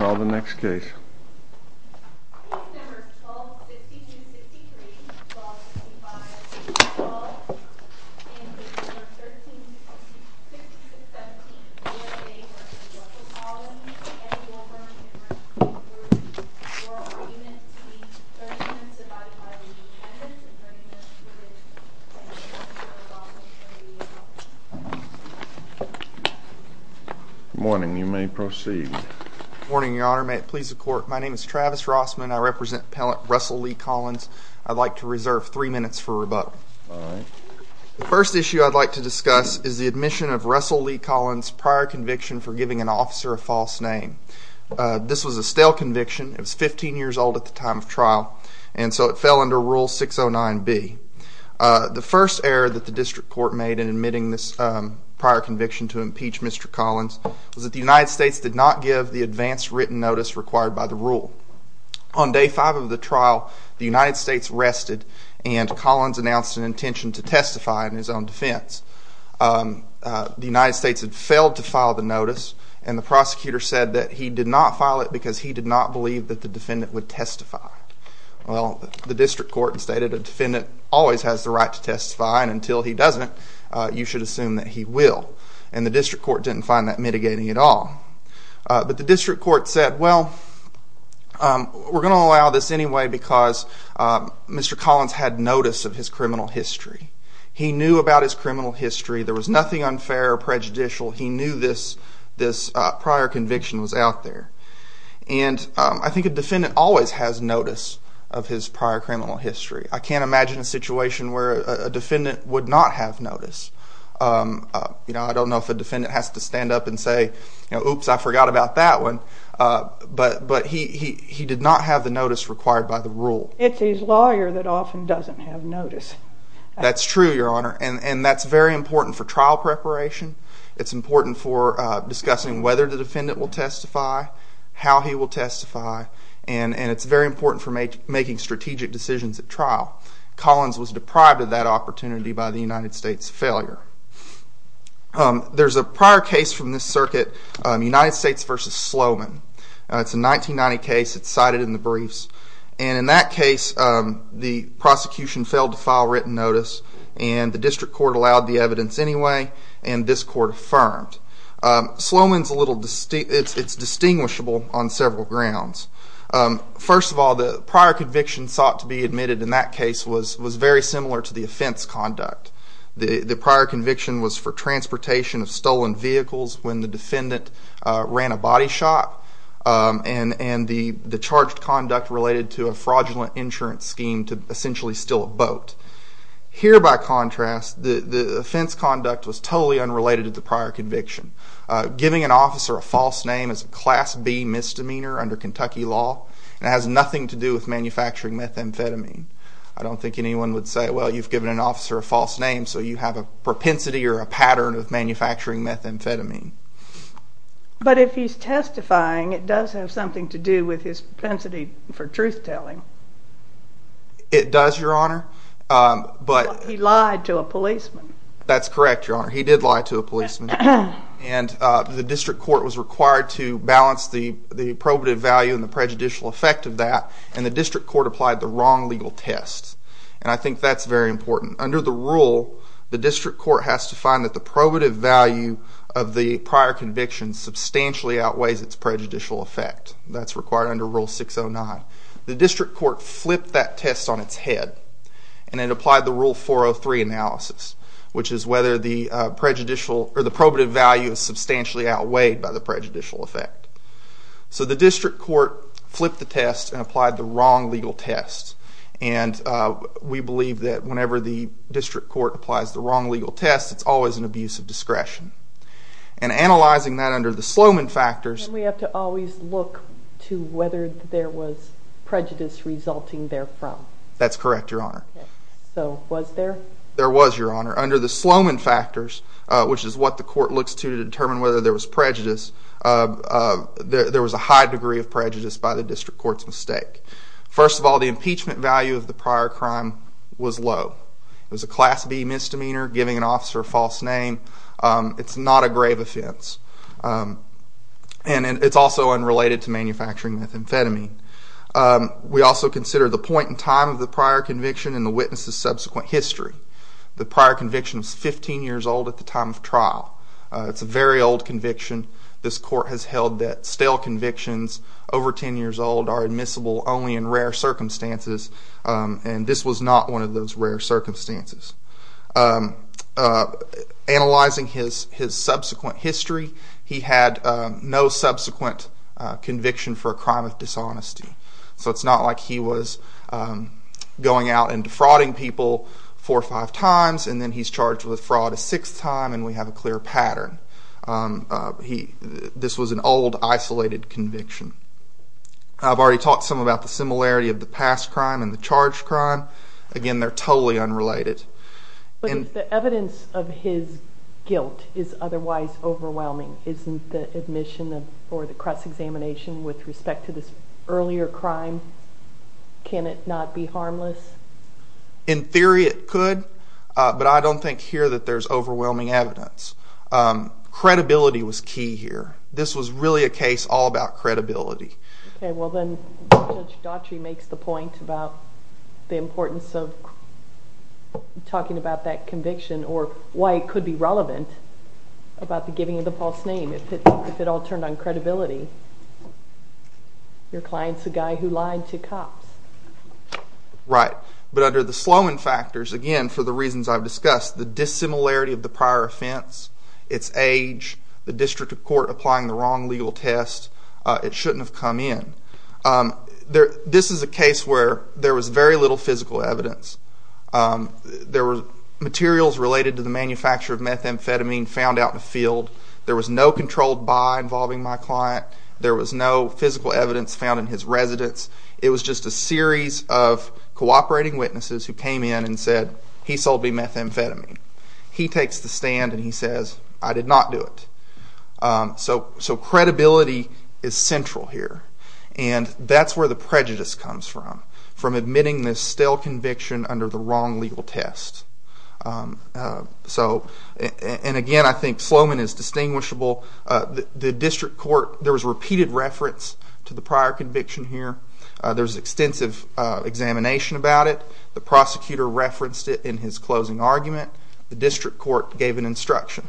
Call the next case. Case number 12-5263-1265 We call in case number 13-6217 USA v. Russell Collins Eddie Wilburn and Richard Brosky Your argument is to be 30 minutes of body-filing and 10 minutes of burning of the privilege of an officer of law from the U.S. Office of Justice. Good morning. You may proceed. Good morning, Your Honor. May it please the Court. My name is Travis Rossman. I represent appellant Russell Lee Collins. I'd like to reserve 3 minutes for rebuttal. The first issue I'd like to discuss is the admission of Russell Lee Collins' prior conviction for giving an officer a false name. This was a stale conviction. It was 15 years old at the time of trial, and so it fell under Rule 609B. The first error that the District Court made in admitting this prior conviction to impeach Mr. Collins was that the United States did not give the advance written notice required by the Rule. On Day 5 of the trial, the United States rested and Collins announced an intention to testify in his own defense. The United States had failed to file the notice, and the prosecutor said that he did not file it because he did not believe that the defendant would testify. The District Court stated a defendant always has the right to testify, and until he doesn't, you should assume that he will. And the District Court didn't find that mitigating at all. But the District Court said, well, we're going to allow this anyway because Mr. Collins had notice of his criminal history. He knew about his criminal history. There was nothing unfair or prejudicial. He knew this prior conviction was out there. And I think a defendant always has notice of his prior criminal history. I can't imagine a situation where a defendant would not have notice. I don't know if a defendant has to stand up and say, oops, I forgot about that one, but he did not have the notice required by the rule. It's his lawyer that often doesn't have notice. That's true, Your Honor, and that's very important for trial preparation. It's important for discussing whether the defendant will testify, how he will testify, and it's very important for making strategic decisions at trial. Collins was deprived of that opportunity by the United States failure. There's a prior case from this circuit, United States v. Sloman. It's a 1990 case. It's cited in the briefs, and in that case, the prosecution failed to file written notice, and the District Court allowed the evidence anyway, and this Court affirmed. Sloman's a little distinguishable on several grounds. First of all, the prior conviction sought to be admitted in that case was very similar to the offense conduct. The prior conviction was for transportation of stolen vehicles when the defendant ran a body shot, and the charged conduct related to a fraudulent insurance scheme to essentially steal a boat. Here, by contrast, the offense conduct was totally unrelated to the prior conviction. Giving an officer a false name is a Class B misdemeanor under Kentucky law, and it has nothing to do with manufacturing methamphetamine. I don't think anyone would say, well, you've given an officer a false name, so you have a propensity or a pattern of manufacturing methamphetamine. But if he's testifying, it does have something to do with his propensity for truth-telling. It does, Your Honor. He lied to a policeman. That's correct, Your Honor. He did lie to a policeman, and the District Court was required to balance the probative value and the prejudicial effect of that, and the District Court applied the wrong legal test. And I think that's very important. Under the rule, the District Court has to find that the probative value of the prior conviction substantially outweighs its prejudicial effect. That's required under Rule 609. The District Court flipped that test on its head, and it applied the Rule 403 analysis, which is whether the probative value is substantially outweighed by the prejudicial effect. So the District Court flipped the test and applied the wrong legal test. And we believe that whenever the District Court applies the wrong legal test, it's always an abuse of discretion. And analyzing that under the Sloman factors... And we have to always look to whether there was prejudice resulting therefrom. That's correct, Your Honor. So, was there? There was, Your Honor. Under the Sloman factors, which is what the Court looks to to determine whether there was prejudice, there was a high degree of prejudice by the District Court's mistake. First of all, the impeachment value of the prior crime was low. It was a Class B misdemeanor, giving an officer a false name. It's not a grave offense. And it's also unrelated to manufacturing methamphetamine. We also consider the point in time of the prior conviction and the witness's subsequent history. The prior conviction was 15 years old at the time of trial. It's a very old conviction. This Court has held that stale convictions over 10 years old are admissible only in rare circumstances. And this was not one of those rare circumstances. Analyzing his subsequent history, he had no subsequent conviction for a crime of dishonesty. So it's not like he was going out and defrauding people four or five times and then he's charged with fraud a sixth time and we have a clear pattern. This was an old isolated conviction. I've already talked some about the similarity of the past crime and the charged crime. Again, they're totally unrelated. But if the evidence of his guilt is otherwise overwhelming, isn't the admission or the cross-examination with respect to this earlier crime, can it not be harmless? In theory, it could. But I don't think here that there's overwhelming evidence. Credibility was key here. This was really a case all about credibility. Judge Daughtry makes the point about the importance of talking about that conviction or why it could be relevant about the giving of the false name if it all turned on credibility. Your client's the guy who lied to cops. Right. But under the Sloman factors, again, for the reasons I've discussed, the dissimilarity of the prior offense, its age, the district of court applying the wrong legal test, it shouldn't have come in. This is a case where there was very little physical evidence. There were materials related to the manufacture of methamphetamine found out in the field. There was no controlled buy involving my client. There was no physical evidence found in his residence. It was just a series of cooperating witnesses who came in and said, he sold me methamphetamine. He takes the stand and he says, I did not do it. So credibility is central here. That's where the prejudice comes from. From admitting this stale conviction under the wrong legal test. Again, I think Sloman is distinguishable. The district court, there was repeated reference to the prior conviction here. There was extensive examination about it. The prosecutor referenced it in his closing argument. The district court gave an instruction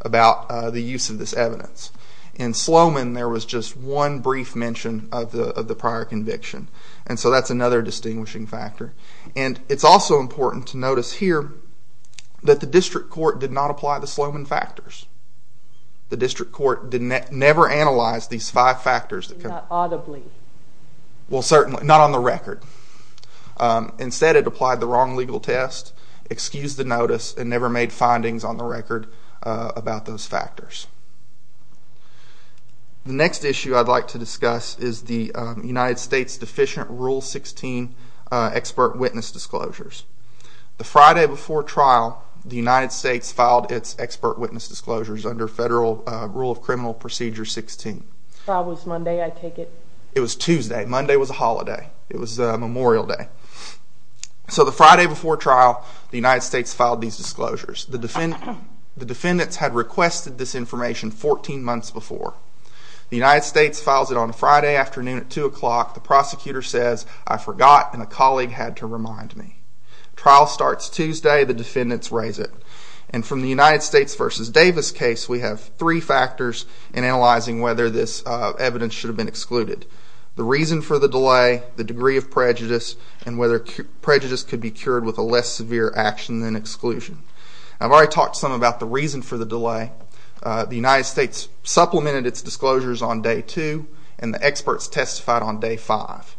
about the use of this evidence. In Sloman, there was just one brief mention of the prior conviction. So that's another distinguishing factor. It's also important to notice here that the district court did not apply the Sloman factors. The district court never analyzed these five factors. Not audibly. Well certainly, not on the record. Instead it applied the wrong legal test, excused the notice and never made findings on the record about those factors. The next issue I'd like to discuss is the United States deficient Rule 16 expert witness disclosures. The Friday before trial, the United States filed its expert witness disclosures under Federal Rule of Criminal Procedure 16. If I was Monday, I'd take it. It was Tuesday. Monday was a holiday. It was Memorial Day. So the Friday before trial, the United States filed these disclosures. The defendants had requested this information 14 months before. The United States files it on a Friday afternoon at 2 o'clock. The prosecutor says, I forgot and a colleague had to remind me. Trial starts Tuesday. The defendants raise it. From the United States v. Davis case, we have three factors in analyzing whether this evidence should have been excluded. The reason for the delay, the degree of prejudice, and whether prejudice could be cured with a less severe action than exclusion. I've already talked some about the reason for the delay. The United States supplemented its disclosures on Day 2 and the experts testified on Day 5.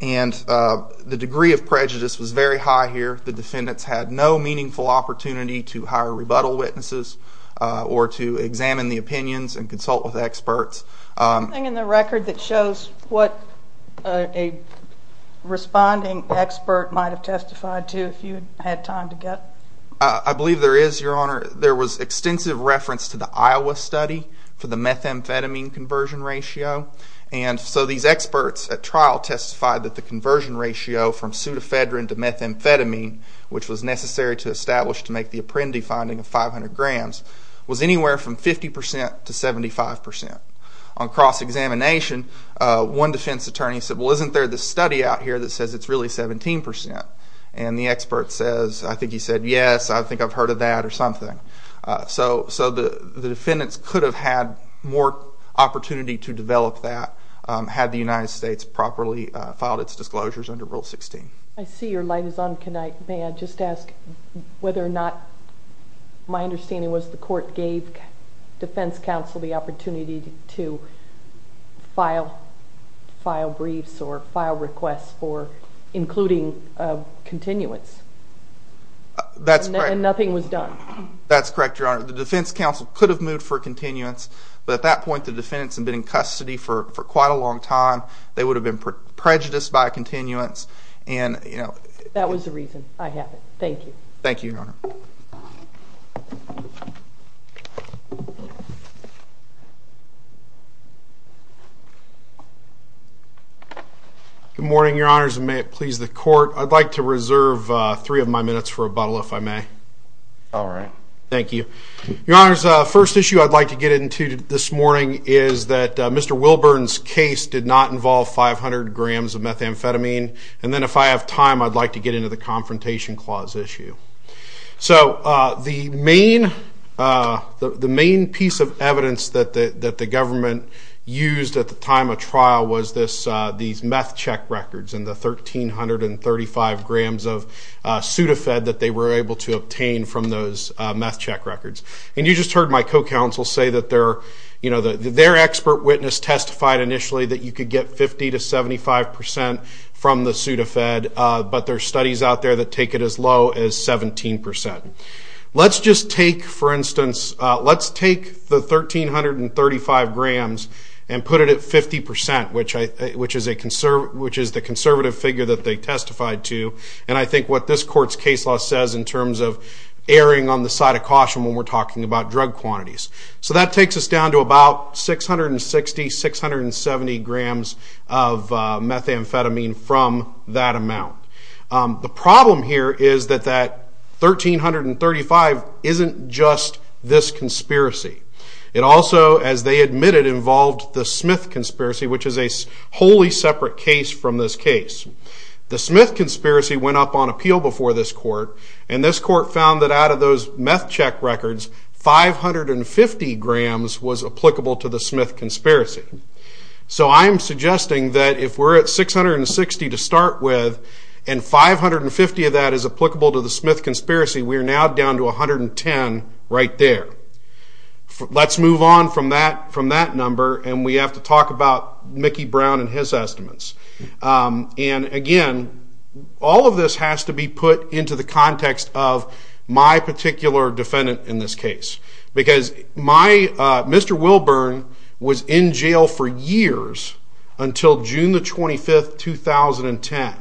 The degree of prejudice was very high here. The defendants had no meaningful opportunity to hire rebuttal witnesses or to examine the opinions and consult with experts. Is there anything in the record that shows what a responding expert might have testified to if you had time to get? I believe there is, Your Honor. There was extensive reference to the Iowa study for the methamphetamine conversion ratio. So these experts at trial testified that the conversion ratio from pseudoephedrine to methamphetamine, which was necessary to establish to make the Apprendi finding of 500 grams, was anywhere from 50% to 75%. On cross-examination, one defense attorney said, well, isn't there this study out here that says it's really 17%? And the expert says, I think he said, yes, I think I've heard of that or something. So the defendants could have had more opportunity to develop that had the United States properly filed its disclosures under Rule 16. I see your light is on. May I just ask whether or not my understanding was the court gave defense counsel the opportunity to file briefs or file requests for including continuance. That's correct. And nothing was done. That's correct, Your Honor. The defense counsel could have moved for continuance, but at that point the defendants had been in custody for quite a long time. They would have been prejudiced by continuance. That was the reason. I have it. Thank you. Thank you, Your Honor. Good morning, Your Honors, and may it please the court, I'd like to reserve three of my minutes for rebuttal, if I may. All right. Thank you. Your Honors, the first issue I'd like to get into this morning is that Mr. Wilburn's case did not involve 500 grams of methamphetamine, and then if I have time, I'd like to get into the Confrontation Clause issue. So, the main piece of evidence that the government used at the time of trial was these meth check records and the 1,335 grams of Sudafed that they were able to obtain from those meth check records. And you just heard my co-counsel say that their expert witness testified initially that you could get 50 to 75 percent from the Sudafed, but there are studies out there that take it as low as 17 percent. Let's just take, for instance, let's take the 1,335 grams and put it at 50 percent, which is the conservative figure that they testified to, and I think what this court's case law says in terms of the side of caution when we're talking about drug quantities. So that takes us down to about 660, 670 grams of methamphetamine from that amount. The problem here is that that 1,335 isn't just this conspiracy. It also, as they admitted, involved the Smith conspiracy, which is a wholly separate case from this case. The Smith conspiracy went up on appeal before this court, and this court found that out of those meth check records, 550 grams was applicable to the Smith conspiracy. So I'm suggesting that if we're at 660 to start with and 550 of that is applicable to the Smith conspiracy, we're now down to 110 right there. Let's move on from that number and we have to talk about Mickey Brown and his estimates. And again, all of this has to be put into the context of my particular defendant in this case. Because Mr. Wilburn was in jail for years until June the 25th 2010.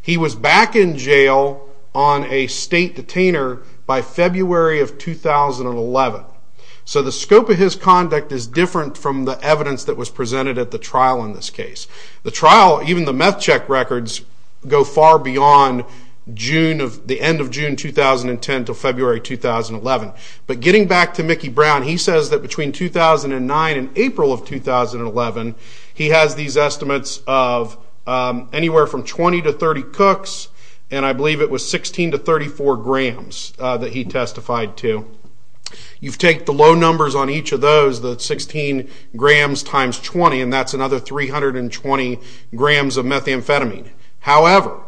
He was back in jail on a state detainer by February of 2011. So the scope of his conduct is different from the evidence that was presented at the trial in this case. The trial, even the meth check records, go far beyond the end of June 2010 to February 2011. But getting back to Mickey Brown, he says that between 2009 and April of 2011 he has these estimates of anywhere from 20 to 30 cooks, and I believe it was 16 to 34 grams that he testified to. You take the low numbers on each of those, the 16 grams times 20, and that's another 320 grams of methamphetamine. However,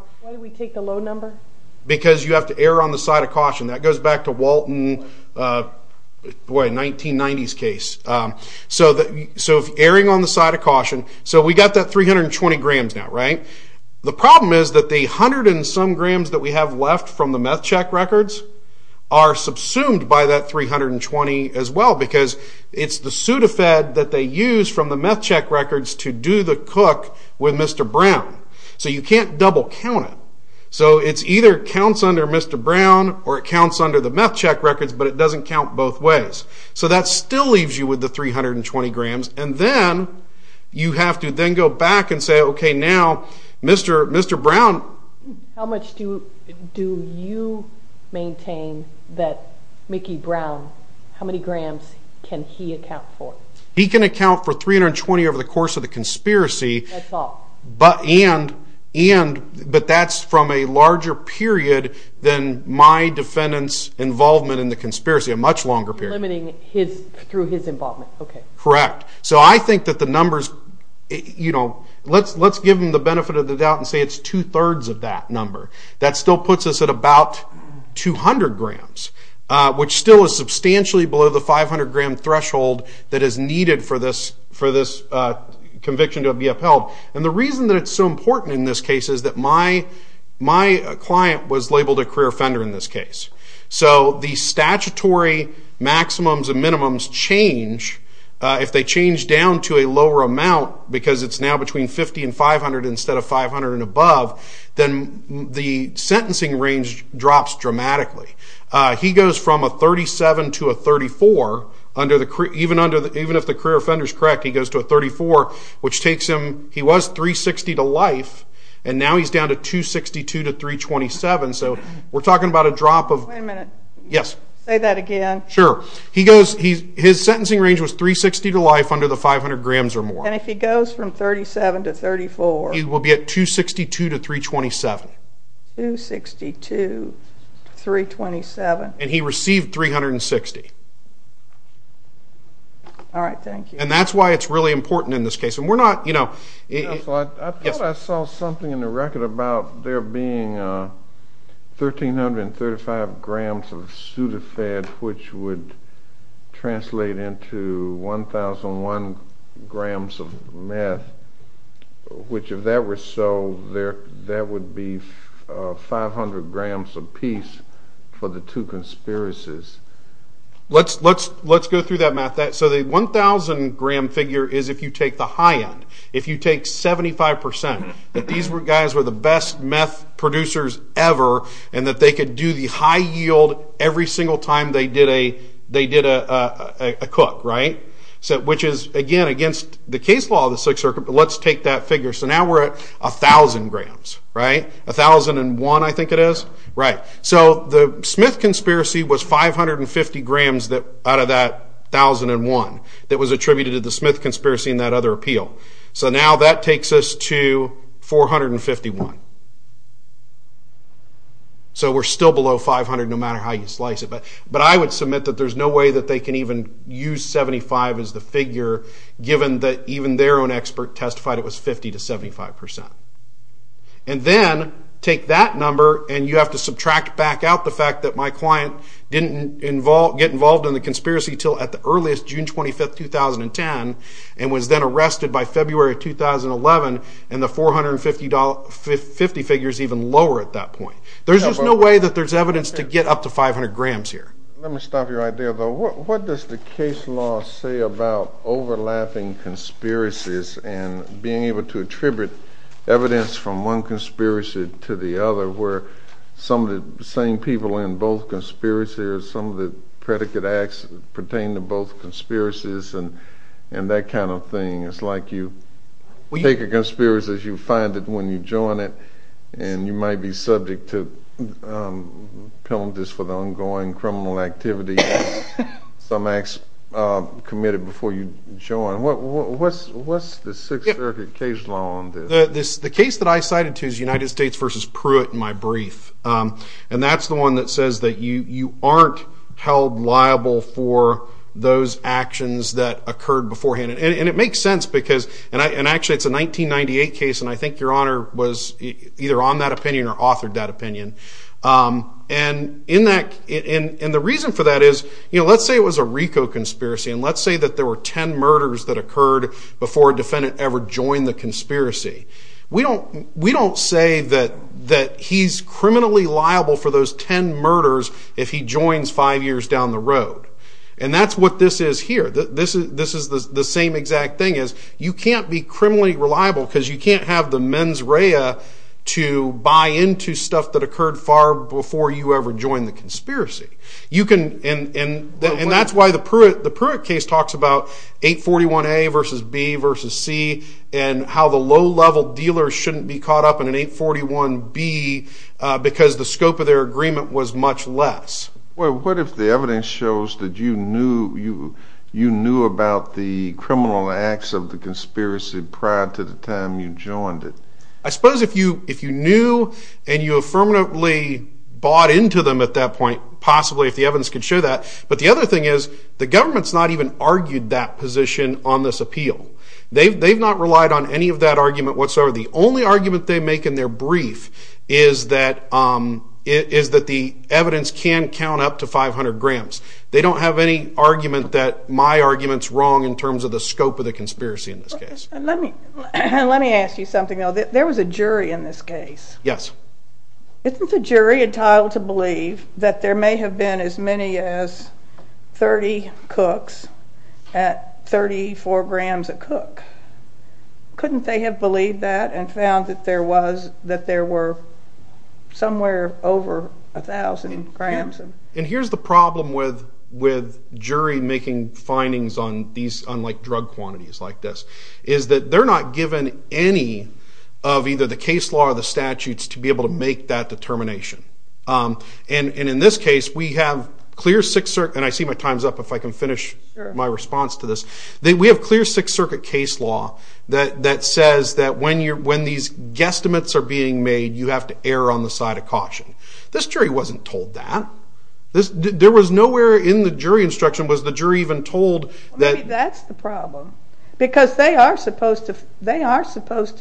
because you have to err on the side of caution. That goes back to Walton 1990's case. Erring on the side of caution, so we got that 320 grams now, right? The problem is that the hundred and some grams that we have left from the meth check records are subsumed by that 320 as well, because it's the pseudo-fed that they use from the cook with Mr. Brown. So you can't double count it. So it either counts under Mr. Brown, or it counts under the meth check records, but it doesn't count both ways. So that still leaves you with the 320 grams, and then you have to then go back and say, okay now, Mr. Brown... How much do you maintain that Mickey Brown, how many grams can he account for? He can account for that's all. But that's from a larger period than my defendant's involvement in the conspiracy, a much longer period. Limiting through his involvement. Correct. So I think that the numbers, you know, let's give him the benefit of the doubt and say it's two-thirds of that number. That still puts us at about 200 grams, which still is substantially below the 500 gram threshold that is needed for this conviction to be upheld. And the reason that it's so important in this case is that my client was labeled a career offender in this case. So the statutory maximums and minimums change, if they change down to a lower amount, because it's now between 50 and 500 instead of 500 and above, then the sentencing range drops dramatically. He goes from a 37 to a 34 even if the sentence is up to a 34, which takes him he was 360 to life and now he's down to 262 to 327. So we're talking about a drop of Wait a minute. Yes. Say that again. Sure. His sentencing range was 360 to life under the 500 grams or more. And if he goes from 37 to 34? He will be at 262 to 327. 262 327. And he received 360. All right. Thank you. And that's why it's really important in this case. I thought I saw something in the record about there being 1,335 grams of pseudofed which would translate into 1,001 grams of meth which if that were so, that would be 500 grams apiece for the two conspiracies. Let's go through that, Matt. So the 1,000 gram figure is if you take the high end. If you take 75%, that these guys were the best meth producers ever and that they could do the high yield every single time they did a cook, right? Which is, again, against the case law of the Sixth Circuit, but let's take that figure. So now we're at 1,000 grams. 1,001 I think it is. Right. So the Smith conspiracy was 550 grams out of that 1,001 that was attributed to the Smith conspiracy and that other appeal. So now that takes us to 451. So we're still below 500 no matter how you slice it, but I would submit that there's no way that they can even use 75 as the figure given that even their own expert testified it was 50 to 75%. And then take that number and you have to subtract back out the fact that my client didn't get involved in the conspiracy until at the earliest June 25, 2010 and was then arrested by February 2011 and the 450 figures even lower at that point. There's just no way that there's evidence to get up to 500 grams here. Let me stop you right there though. What does the case law say about overlapping conspiracies and being able to attribute evidence from one conspiracy to the other where some of the same people in both conspiracies or some of the predicate acts pertain to both conspiracies and that kind of thing. It's like you take a conspiracy, you find it when you join it and you might be subject to penalties for the ongoing criminal activity and some acts committed before you join. What's the case law on this? The case that I cited to is United States vs. Pruitt in my brief. And that's the one that says that you aren't held liable for those actions that occurred beforehand. And it makes sense because, and actually it's a 1998 case and I think your honor was either on that opinion or authored that opinion. And the reason for that is let's say it was a RICO conspiracy and let's say that there were 10 murders that occurred before a defendant ever joined the conspiracy. We don't say that he's criminally liable for those 10 murders if he joins five years down the road. And that's what this is here. This is the same exact thing as you can't be criminally reliable because you can't have the mens rea to buy into stuff that occurred far before you ever joined the conspiracy. And that's why the Pruitt case talks about 841A versus B versus C and how the low level dealers shouldn't be caught up in an 841B because the scope of their agreement was much less. What if the evidence shows that you knew about the criminal acts of the conspiracy prior to the time you joined it? I suppose if you knew and you affirmatively bought into them at that point, possibly if the evidence could show that. But the other thing is, the government has not even argued that position on this appeal. They've not relied on any of that argument whatsoever. The only argument they make in their brief is that the evidence can count up to 500 grams. They don't have any argument that my argument is wrong in terms of the scope of the conspiracy in this case. Let me ask you something. There was a jury in this case. Isn't the jury entitled to believe that there may have been as many as 30 cooks at 34 grams a cook? Couldn't they have believed that and found that there were somewhere over 1,000 grams? Here's the problem with jury making findings on these unlike drug quantities like this. They're not given any of either the case law or the statutes to be able to make that determination. In this case, we have clear Sixth Circuit and I see my time's up if I can finish my response to this. We have clear Sixth Circuit case law that says that when these guesstimates are being made, you have to err on the side of caution. This jury wasn't told that. There was nowhere in the jury instruction was the jury even told that... Maybe that's the problem. Because they are supposed to decide. They are supposed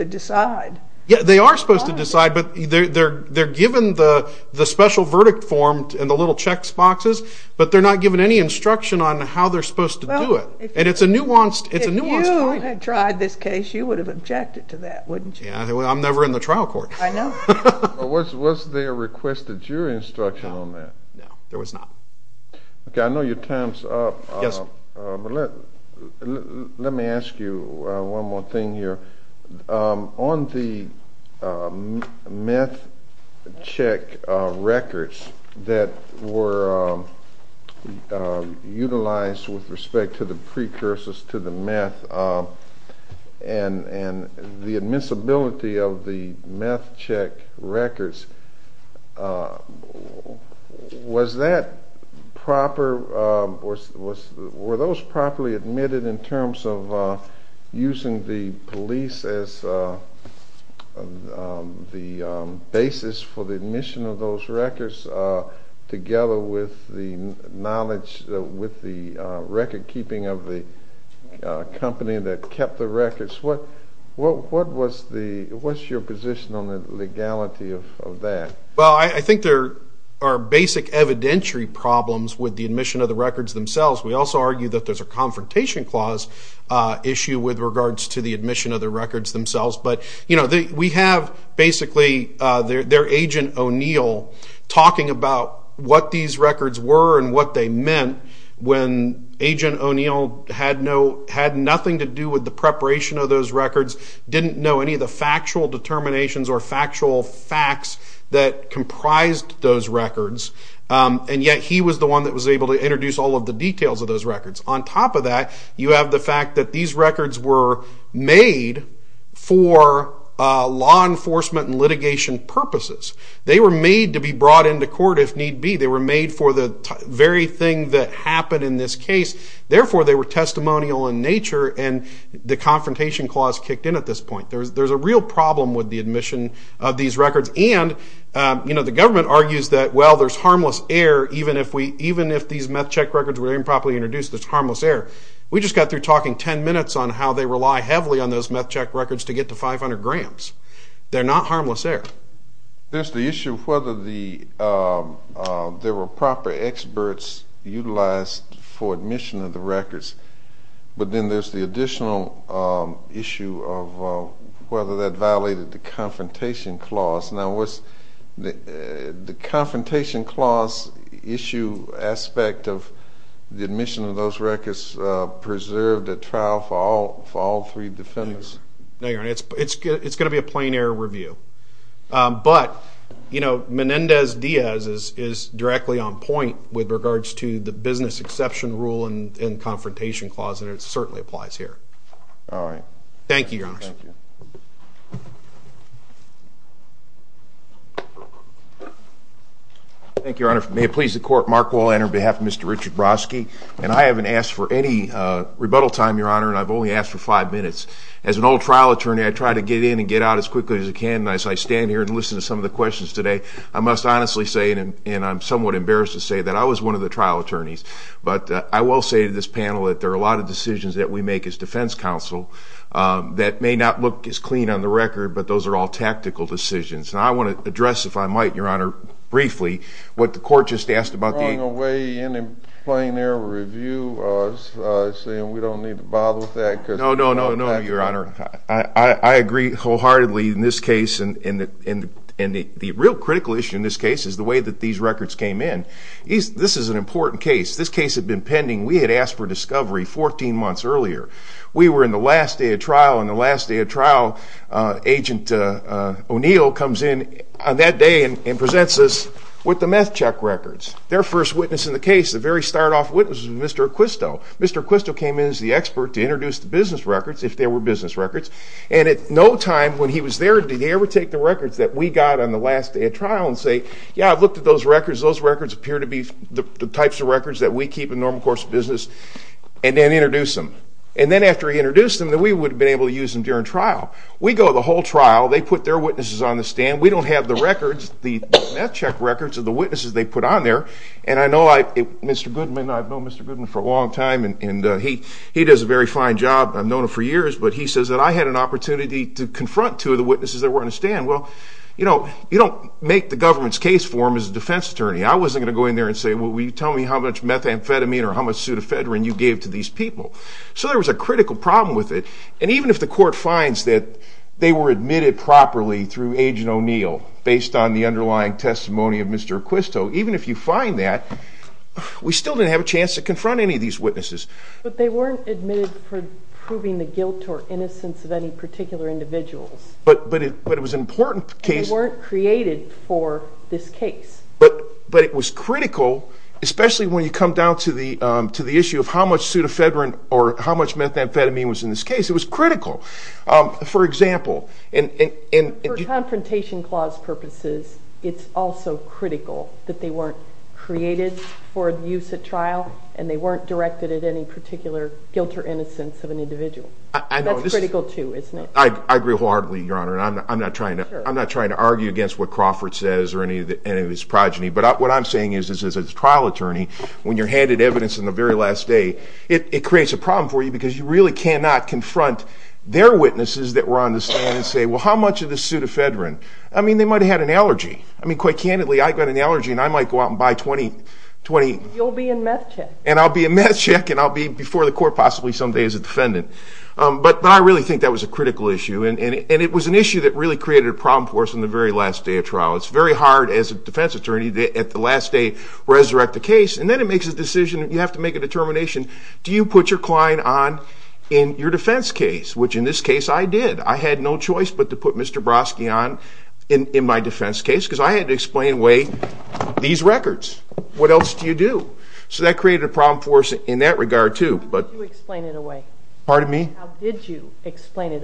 to decide but they're given the special verdict form and the little checks boxes, but they're not given any instruction on how they're supposed to do it. It's a nuanced point. If you had tried this case, you would have objected to that, wouldn't you? I'm never in the trial court. Was there requested jury instruction on that? No, there was not. I know your time's up. Yes. Let me ask you one more thing here. On the meth check records that were utilized with respect to the precursors to the meth and the admissibility of the meth check records, was that proper? Were those properly admitted in terms of using the police as the basis for the admission of those records together with the knowledge, with the record keeping of the company that kept the records? What was your position on the legality of that? Well, I think there are basic evidentiary problems with the admission of the records themselves. We also argue that there's a problem with the admission of the records themselves. We have basically their agent, O'Neill, talking about what these records were and what they meant when agent O'Neill had nothing to do with the preparation of those records, didn't know any of the factual determinations or factual facts that comprised those records, and yet he was the one that was able to introduce all of the details of those records. On top of that, you have the fact that these records were made for law enforcement and litigation purposes. They were made to be brought into court if need be. They were made for the very thing that happened in this case. Therefore, they were testimonial in nature, and the confrontation clause kicked in at this point. There's a real problem with the admission of these records, and the government argues that, well, there's harmless error even if these meth check records were improperly introduced, there's harmless error. We just got through talking 10 minutes on how they rely heavily on those meth check records to get to 500 grams. They're not harmless error. There's the issue of whether there were proper experts utilized for admission of the records, but then there's the additional issue of whether that violated the confrontation clause. Now, the confrontation clause issue aspect of the admission of those records preserved at trial for all three defendants. It's going to be a plain error review, but Menendez Diaz is directly on point with regards to the business exception rule and confrontation clause, and it certainly applies here. Thank you, Your Honor. Thank you. Thank you, Your Honor. May it please the court, Mark Wall on behalf of Mr. Richard Brodsky, and I haven't asked for any rebuttal time, Your Honor, and I've only asked for five minutes. As an old trial attorney, I try to get in and get out as quickly as I can, and as I stand here and listen to some of the questions today, I must honestly say, and I'm somewhat embarrassed to say, that I was one of the trial attorneys, but I will say to this panel that there are a lot of decisions that we make as attorneys that may not look as clean on the record, but those are all tactical decisions. And I want to address, if I might, Your Honor, briefly, what the court just asked about the... Are you throwing away any plain error review, saying we don't need to bother with that? No, no, no, no, Your Honor. I agree wholeheartedly in this case, and the real critical issue in this case is the way that these records came in. This is an important case. This case had been pending. We had asked for discovery 14 months earlier. We were in the last day of trial, and the last day of trial, Agent O'Neill comes in on that day and presents us with the meth check records. Their first witness in the case, the very start off witness, was Mr. Acquisto. Mr. Acquisto came in as the expert to introduce the business records, if they were business records, and at no time when he was there did he ever take the records that we got on the last day of trial and say, yeah, I've looked at those records, those records appear to be the types of records that we keep in normal course of business, and then introduce them. And then after he introduced them, then we would have been able to use them during trial. We go the whole trial, they put their witnesses on the stand, we don't have the records, the meth check records of the witnesses they put on there, and I know I, Mr. Goodman, I've known Mr. Goodman for a long time, and he does a very fine job, I've known him for years, but he says that I had an opportunity to confront two of the witnesses that were on the stand. Well, you know, you don't make the government's case for them as a defense attorney. I wasn't going to go in there and say, well, will you tell me how much methamphetamine or how much pseudofedrine you gave to these people? So there was a critical problem with it, and even if the court finds that they were admitted properly through Agent O'Neill, based on the underlying testimony of Mr. Acquisto, even if you find that, we still didn't have a chance to confront any of these witnesses. But they weren't admitted for proving the guilt or innocence of any particular individuals. But it was an important case. And they weren't created for this case. But it was critical, especially when you come down to the issue of how much pseudofedrine or how much methamphetamine was in this case. It was critical. For example... For confrontation clause purposes, it's also critical that they weren't created for use at trial and they weren't directed at any particular guilt or innocence of an individual. That's critical too, isn't it? I agree wholeheartedly, Your Honor. I'm not trying to argue against what and I'm not trying to be a progeny. But what I'm saying is, as a trial attorney, when you're handed evidence on the very last day, it creates a problem for you because you really cannot confront their witnesses that were on the stand and say, well, how much of this pseudofedrine? I mean, they might have had an allergy. Quite candidly, I got an allergy and I might go out and buy 20... You'll be in meth check. And I'll be in meth check and I'll be in another case. have a trial attorney at the last day resurrect the case and then it makes a decision, you have to make a determination, do you put your client on in your defense case, which in this case I did? I had no choice but to put Mr. Brosky on in my defense case because I had to explain away these records. What else do you do? So that created a problem for us in that regard too. How did you explain it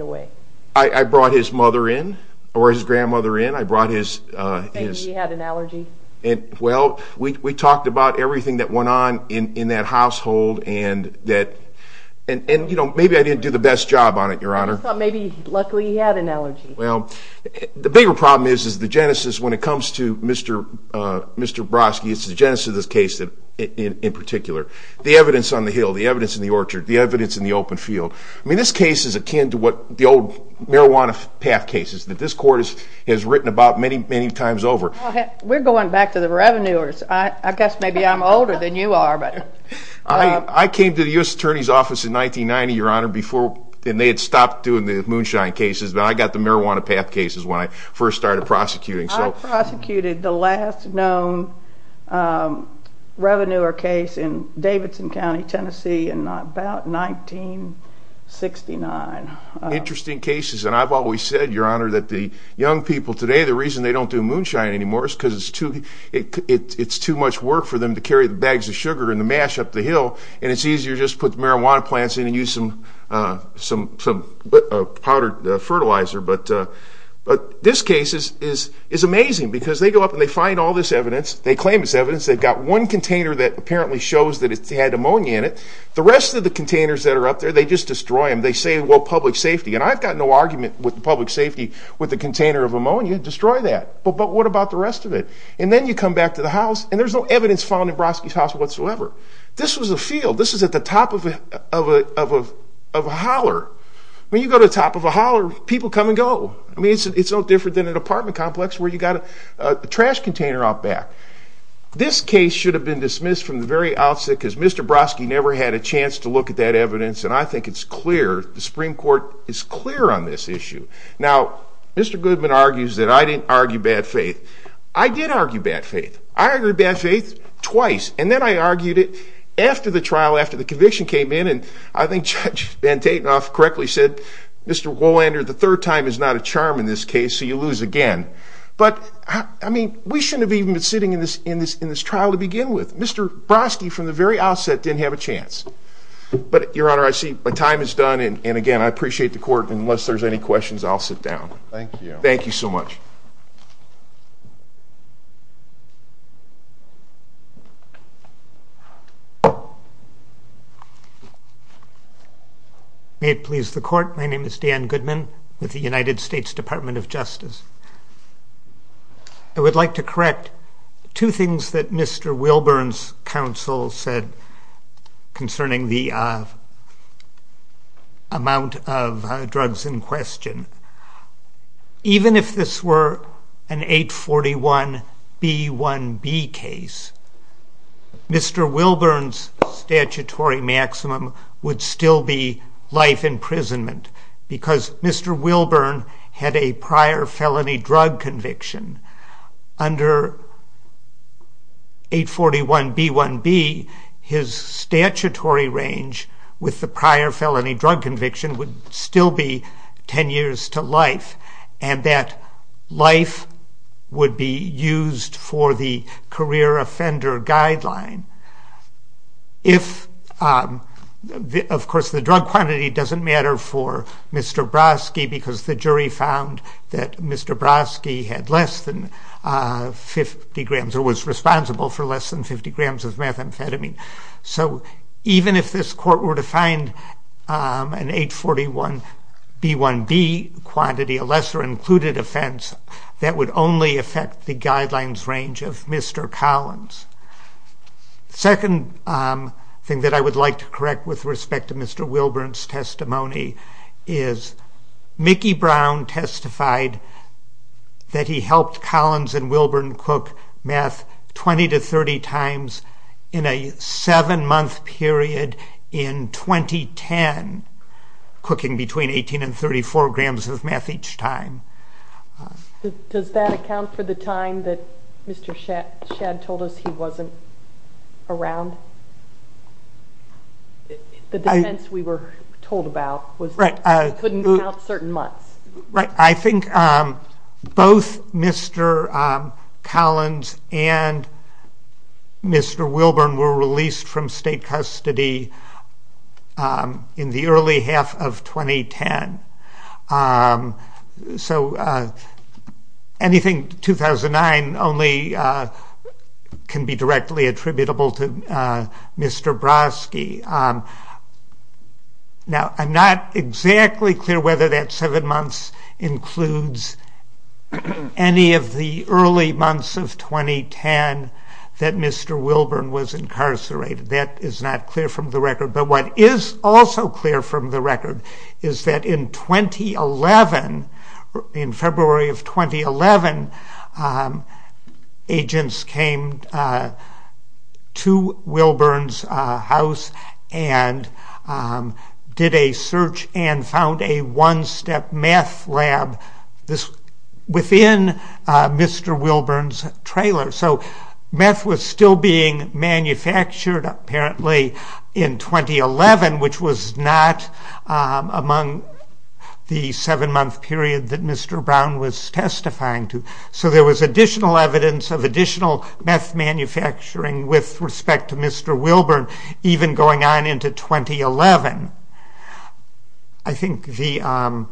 away? I brought his mother in, or his grandmother in I brought his... He had an allergy? We talked about everything that went on in that household and maybe I didn't do the best job on it, your honor. Maybe luckily he had an allergy. The bigger problem is the genesis when it comes to Mr. Brosky, it's the genesis of this case in particular. The evidence on the hill, the evidence in the orchard, the evidence in the open field. I mean this case is akin to the old marijuana path cases that this court has written about many times over. We're going back to the revenuers. I guess maybe I'm older than you are. I came to the U.S. Attorney's office in 1990, your honor, and they had stopped doing the moonshine cases, but I got the marijuana path cases when I first started prosecuting. I prosecuted the last known revenuer case in Davidson County, Tennessee in about 1969. Interesting cases, and I've always said, your honor, that the young people today, the reason they don't do moonshine anymore is because it's too much work for them to carry the bags of sugar and the mash up the hill and it's easier to just put the marijuana plants in and use some powdered fertilizer. But this case is amazing because they go up and they find all this evidence. They claim it's evidence. They've got one container that apparently shows that it had ammonia in it. The rest of the containers that are up there, they just destroy them. They say, well, public safety. And I've got no argument with public safety with the container of ammonia. Destroy that. But what about the rest of it? And then you come back to the house, and there's no evidence found in Brodsky's house whatsoever. This was a field. This was at the top of a holler. When you go to the top of a holler, people come and go. It's no different than an apartment complex where you've got a trash container out back. This case should have been dismissed from the very outset because Mr. Brodsky never had a chance to look at that evidence, and I think it's clear the Supreme Court is clear on this issue. Now, Mr. Goodman argues that I didn't argue bad faith. I did argue bad faith. I argued bad faith twice, and then I argued it after the trial, after the conviction came in, and I think Judge Van Tatenhoff correctly said, Mr. Wolander, the third time is not a charm in this case, so you lose again. But, I mean, we shouldn't have even been sitting in this trial to begin with. Mr. Brodsky, from the very outset, didn't have a chance. But, Your Honor, I see my time is done, and again, I appreciate the Court, and unless there's any questions, I'll sit down. Thank you so much. May it please the Court. My name is Dan Goodman, with the United States Department of Justice. I would like to correct two things that Mr. Wilburn's counsel said a trial, I would like to correct two things that Mr. Wilburn's counsel said under an 841 B1B case, Mr. Wilburn's statutory maximum would still be life imprisonment, because Mr. Wilburn had a prior felony drug conviction. Under 841 B1B, his statutory range with the prior felony drug conviction would still be ten years to life, and that life would be used for the career offender guideline. If, of course, the drug quantity doesn't matter for Mr. Brodsky, because the jury found that Mr. Brodsky had less than 50 grams, or was responsible for less than 50 grams of methamphetamine. So, even if this Court were to find an 841 B1B quantity, a lesser included offense, that would only affect the guidelines range of Mr. Collins. The second thing that I would like to correct with respect to Mr. Wilburn's testimony is Mickey Brown testified that he helped Collins and Wilburn cook meth 20 to 30 times in a seven-month period in 2010, cooking between 18 and 34 grams of meth each time. Does that account for the time that Mr. Shadd told us he wasn't around? The defense we were told about was that he couldn't count certain months. Right. I think both Mr. Collins and Mr. Wilburn were released from state custody in the early half of 2010. So, anything 2009 only can be directly attributable to Mr. Broski. Now, I'm not exactly clear whether that seven months includes any of the early months of 2010 that Mr. Wilburn was That's not clear from the record. But what is also clear from the record is that in 2011, in February of 2011, agents came to Wilburn's house and did a search and found a one-step meth lab within Mr. Wilburn's trailer. So, meth was still being manufactured, apparently, in 2011, which was not among the seven-month period that Mr. Brown was testifying to. So there was additional evidence of additional meth manufacturing with respect to Mr. Wilburn, even going on into 2011. I think the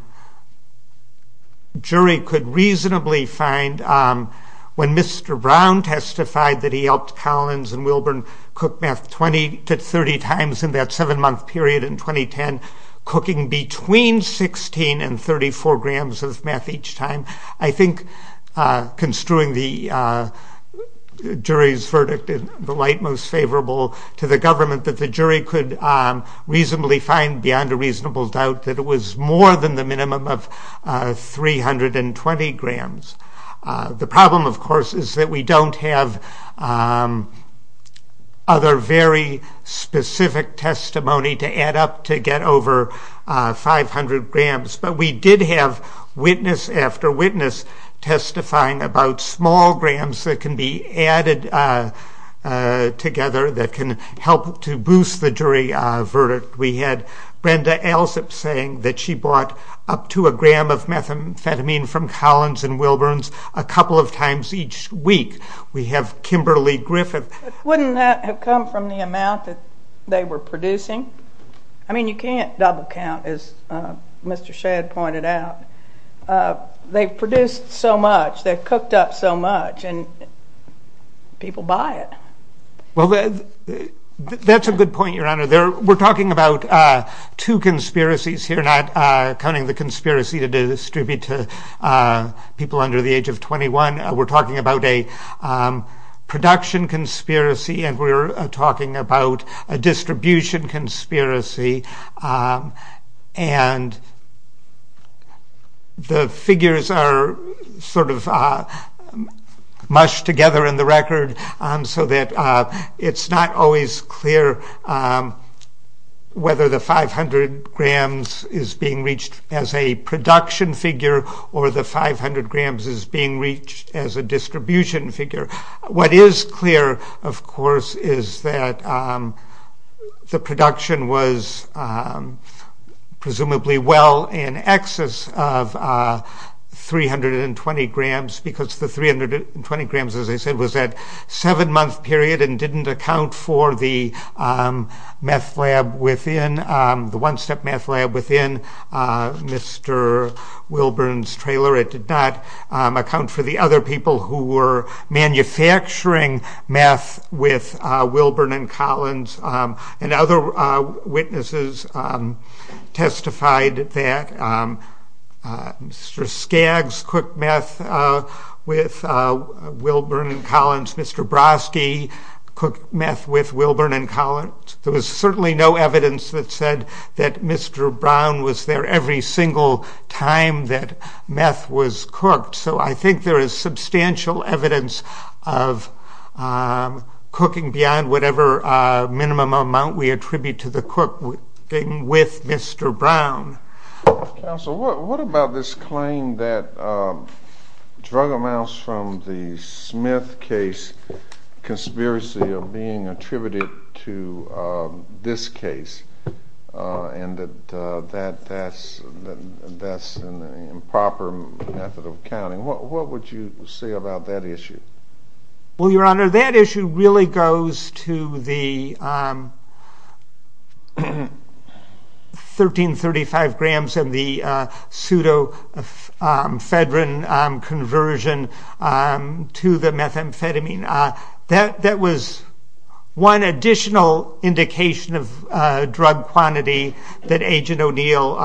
jury could reasonably find, when Mr. Brown testified that he helped Collins and Wilburn cook meth 20 to 30 times in that seven-month period in 2010, cooking between 16 and 34 grams of meth each time, I think, construing the jury's verdict in the light most favorable to the government, that the jury could reasonably find, beyond a reasonable doubt, that it was more than the minimum of 320 grams. The problem, of course, is that we don't have other very specific testimony to add up to get over 500 grams, but we did have witness after witness testifying about small grams that can be added together that can help to boost the jury verdict. We had Brenda Elzip saying that she bought up to a gram of methamphetamine from Collins and Wilburn a couple of times each week. We have Kimberly Griffith. Wouldn't that have come from the amount that they were producing? I mean, you can't double-count, as Mr. Shadd pointed out. They've produced so much, they've cooked up so much, and people buy it. Well, that's a good point, Your Honor. We're talking about two conspiracies here, not counting the conspiracy to distribute to people under the age of 21. We're talking about a production conspiracy, and we're talking about a distribution conspiracy, and the figures are sort of mushed together in the record so that it's not always clear whether the 500 grams is being reached as a production figure or the 500 grams is being reached as a distribution figure. What is clear, of course, is that the production was presumably well in excess of 320 grams because the 320 grams, as I said, was that seven-month period and didn't account for the meth lab within the one-step meth lab within Mr. Wilburn's trailer. It did not account for the other people who were manufacturing meth with Wilburn and Collins, and other witnesses testified that Mr. Skaggs cooked meth with Wilburn and Collins. Mr. Broski cooked meth with Wilburn and Collins. There was certainly no evidence that said that Mr. Brown was there every single time that meth was cooked, so I think there is substantial evidence of cooking beyond whatever minimum amount we attribute to the cooking with Mr. Brown. Counsel, what about this claim that drug amounts from the Smith case conspiracy of being attributed to this case, and that that's an improper method of counting. What would you say about that issue? Well, Your Honor, that issue really goes to the 1335 grams and the pseudo-fedrin conversion to the methamphetamine. That was one additional indication of drug quantity that Agent O'Neill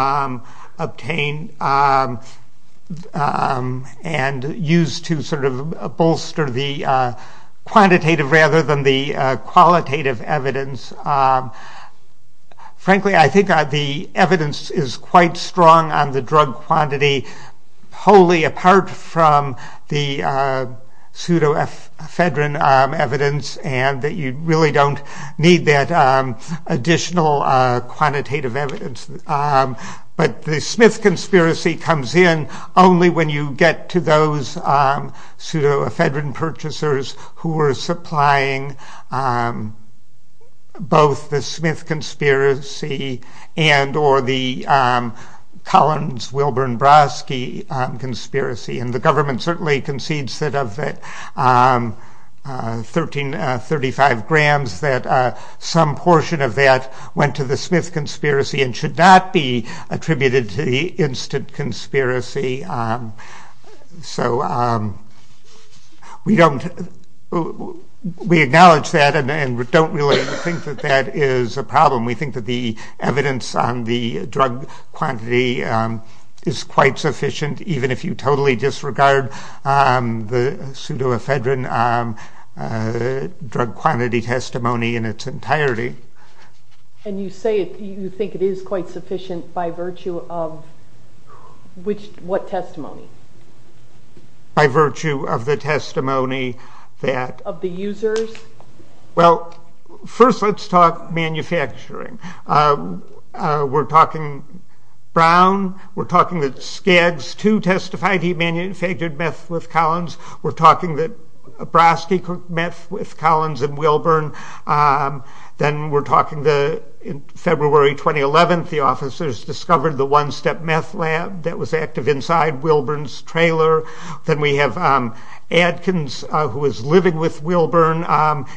obtained and used to sort of bolster the quantitative rather than the qualitative evidence Frankly, I think the evidence is quite strong on the drug quantity wholly apart from the pseudo-fedrin evidence and that you really don't need that additional quantitative evidence. But the Smith conspiracy comes in only when you get to those pseudo-fedrin purchasers who were supplying both the Smith conspiracy and or the Collins-Wilburn-Brosky conspiracy. And the government certainly concedes that of the 1335 grams that some portion of that went to the Smith conspiracy and should not be attributed to the instant conspiracy. So we don't we acknowledge that and don't really think that that is a problem. We think that the evidence on the drug quantity is quite sufficient even if you totally disregard the pseudo-fedrin drug quantity testimony in its entirety. And you say you think it is quite sufficient by virtue of what testimony? By of the users? Well, first let's talk manufacturing. We're talking Brown. We're talking that Skaggs too testified he manufactured meth with Collins. We're talking that Brosky met with Collins and Wilburn. Then we're talking that in February 2011 the officers discovered the one-step meth lab that was active inside Wilburn's trailer. Then we have Adkins who was living with Wilburn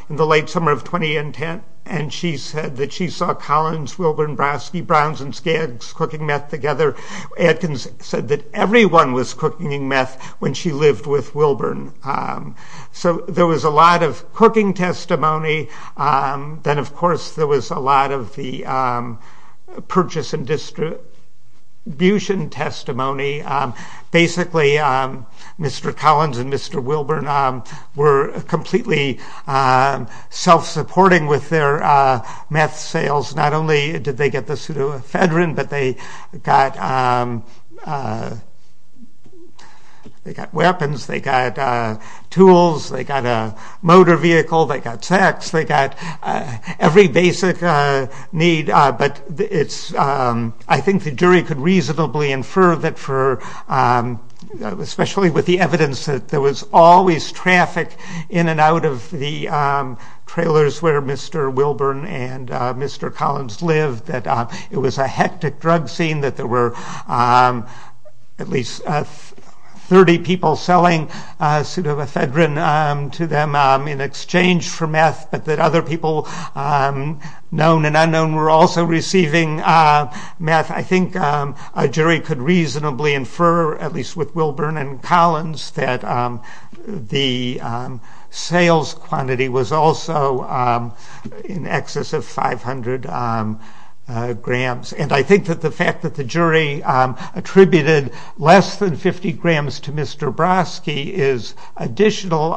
in the late summer of 2010 and she said that she saw Collins, Wilburn, Brosky, Browns, and Skaggs cooking meth together. Adkins said that everyone was cooking meth when she lived with Wilburn. So there was a lot of cooking testimony. Then of course there was a lot of the purchase and distribution testimony. Basically Mr. Collins and Mr. Wilburn were completely self-supporting with their meth sales. Not only did they get the pseudoephedrine, but they got weapons, they got tools, they got a motor vehicle, they got sex, they got every basic need. But it's I think the jury could reasonably infer that for, especially with the evidence that there was always traffic in and out of the trailers where Mr. Wilburn and Mr. Collins lived, that it was a hectic drug scene, that there were at least 30 people selling pseudoephedrine to them in exchange for meth, but that other people known and unknown were also receiving meth. I think a jury could reasonably infer, at least with Wilburn and Collins, that the sales quantity was also in excess of 500 grams. I think that the fact that the jury attributed less than 50 grams to Mr. Broski is additional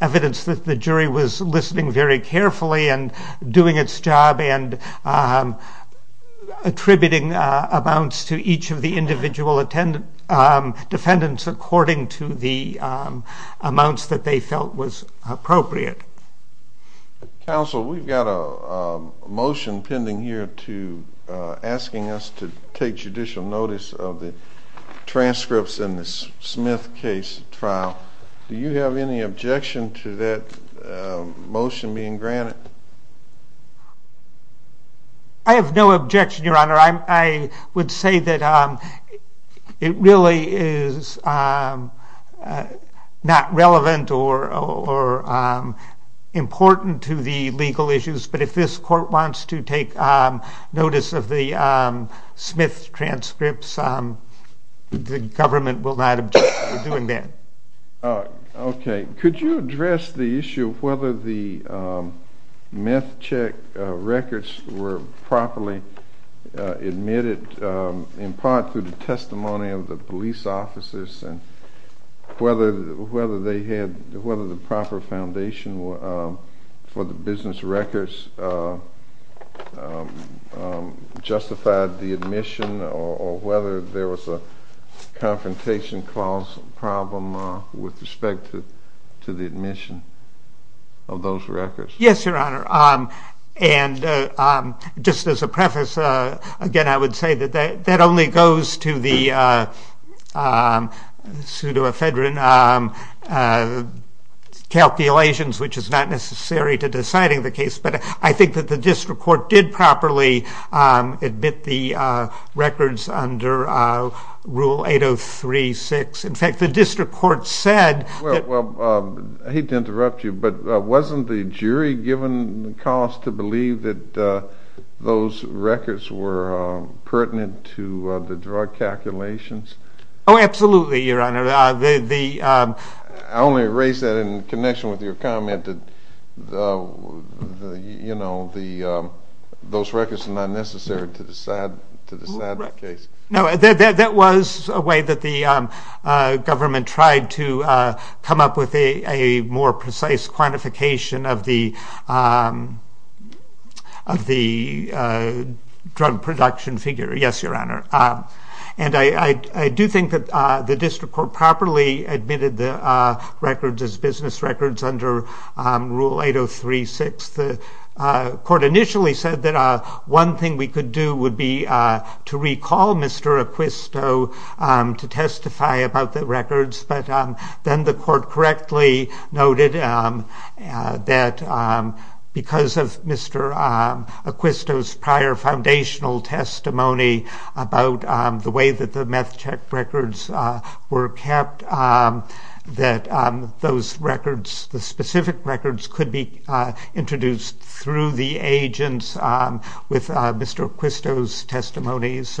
evidence that the jury was listening very carefully and doing its job and attributing amounts to each of the individual defendants according to the amounts that they felt was appropriate. Counsel, we've got a motion pending here to asking us to take judicial notice of the transcripts in the Smith case trial. Do you have any objection to that motion being granted? I have no objection, Your Honor. I would say that it really is not relevant or important to the legal issues, but if this court wants to take notice of the Smith transcripts, the government will not object to doing that. Okay. Could you address the issue of whether the meth check records were properly admitted in part through the testimony of the police officers and whether the proper foundation for the business records justified the admission or whether there was a confrontation clause problem with respect to the admission of those records? Yes, Your Honor. And just as a preface, again, I would say that that only goes to the pseudoephedrine calculations, which is not necessary to deciding the case, but I think that the district court did properly admit the records under Rule 803-6. In fact, the district court said... Well, I hate to interrupt you, but wasn't the jury given the cause to believe that those records were pertinent to the drug calculations? Oh, absolutely, Your Honor. The... I only raised that in connection with your comment that you know, those records are not necessary to decide the case. That was a way that the district court was able to come up with a more precise quantification of the drug production figure. Yes, Your Honor. And I do think that the district court properly admitted the records as business records under Rule 803-6. The court initially said that one thing we could do would be to recall Mr. Acquisto to testify about the records, but then the court correctly noted that because of Mr. Acquisto's prior foundational testimony about the way that the meth check records were kept, that those records, the specific records, could be introduced through the agents with Mr. Acquisto's testimony as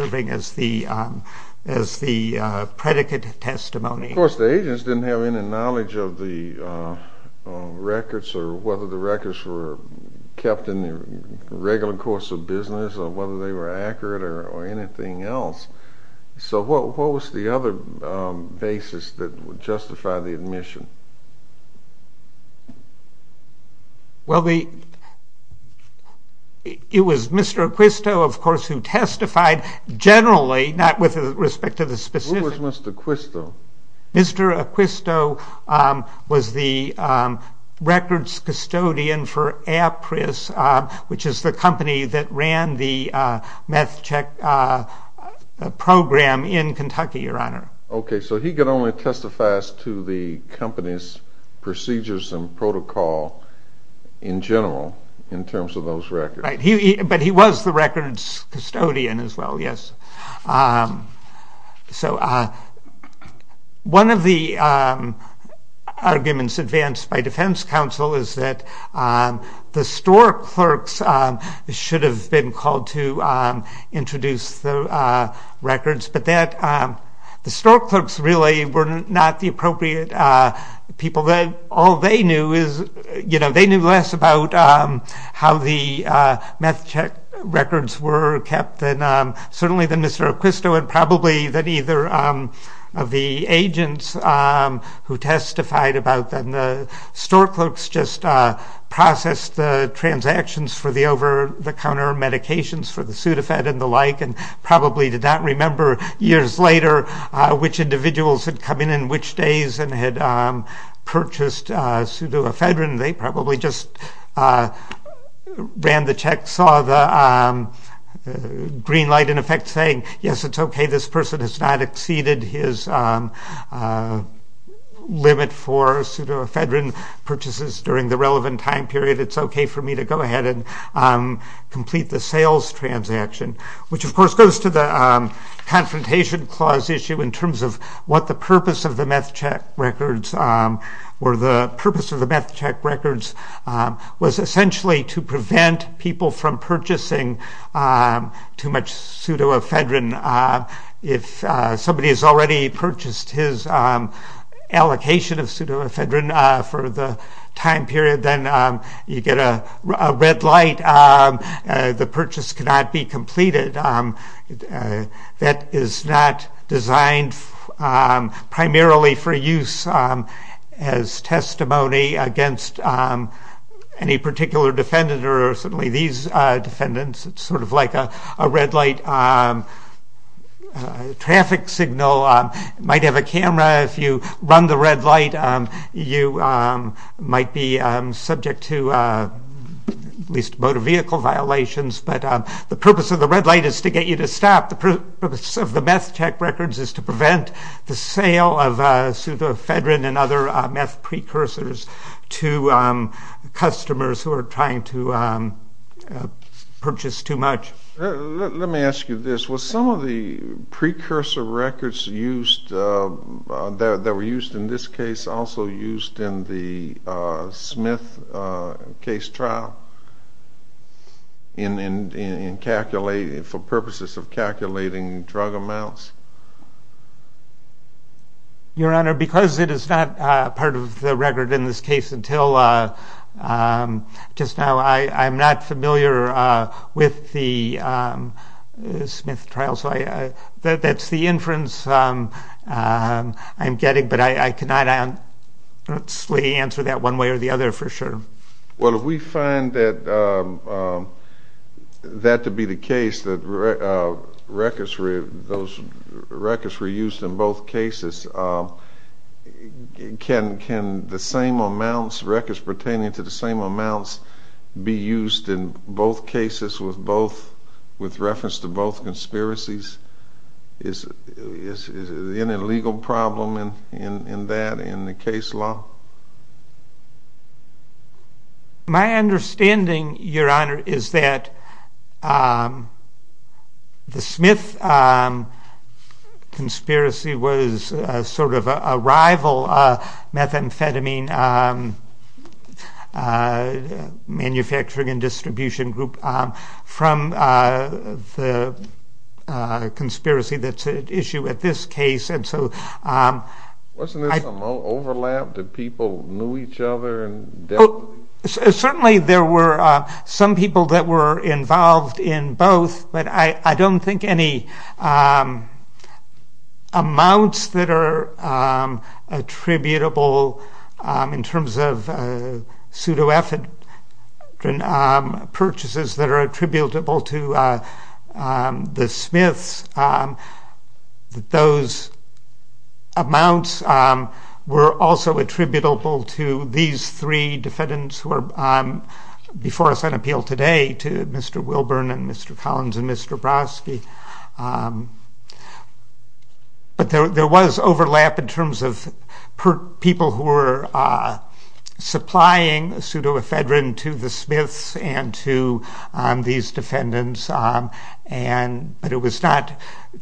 the predicate testimony. Of course, the agents didn't have any knowledge of the records or whether the records were kept in the regular course of business or whether they were accurate or anything else. So what was the other basis that would justify the admission? Well, the... It was Mr. Acquisto of course who testified generally, not with respect to the specifics. Who was Mr. Acquisto? Mr. Acquisto was the records custodian for APRIS, which is the company that ran the meth check program in Kentucky, Your Honor. Okay, so he could only testify to the company's procedures and protocol in general in terms of those records. Right, but he was the records custodian as well, yes. So one of the arguments advanced by defense counsel is that the store clerks should have been called to introduce the the store clerks really were not the appropriate people. All they knew is, you know, how the meth check records were kept, and certainly that Mr. Acquisto and probably that either of the agents who testified about them. The store clerks just processed the transactions for the over-the-counter medications for the Sudafed and the like, and probably did not remember years later which individuals had come in in which days and had purchased Sudafedrin. They probably just ran the check, saw the green light in effect saying, yes, it's okay, this person has not exceeded his limit for Sudafedrin purchases during the relevant time period. It's okay for me to go ahead and complete the sales transaction, which of course goes to the confrontation clause issue in terms of what the purpose of the meth check records was essentially to prevent people from purchasing too much Sudafedrin. If somebody has already purchased his allocation of Sudafedrin for the time period, then you get a red light. The purchase cannot be completed. That is not designed primarily for use as testimony against any particular defendant or certainly these defendants. It's sort of like a red light traffic signal. You might have a camera. If you run the red light, you might be subject to at least motor vehicle violations. The purpose of the red light is to get you to stop. The purpose of the meth check records is to prevent the other meth precursors to customers who are trying to purchase too much. Let me ask you this. Were some of the precursor records that were used in this case also used in the Smith case trial for purposes of calculating drug amounts? Your Honor, because it is not part of the record in this case until just now, I'm not familiar with the Smith trial. That's the inference I'm getting, but I cannot honestly answer that one way or the other for sure. Well, we find that to be the case that those records were used in both cases. Can the same amounts, records pertaining to the same amounts, be used in both cases with both with reference to both conspiracies? Is there any legal problem in that in the case law? My understanding, Your Honor, is that the Smith conspiracy was sort of a rival methamphetamine manufacturing and distribution group from the conspiracy that's at issue at this case. And so... Wasn't there some overlap? Did people know each other? Certainly there were some people that were involved in both, but I don't think any amounts that are attributable in terms of pseudoephedrine purchases that are attributable to the Smiths. Those amounts were also attributable to these three defendants who are before us on appeal today to Mr. Wilburn and Mr. Collins and Mr. Brodsky. But there was overlap in terms of people who were supplying pseudoephedrine to the Smiths and to these defendants. But it was not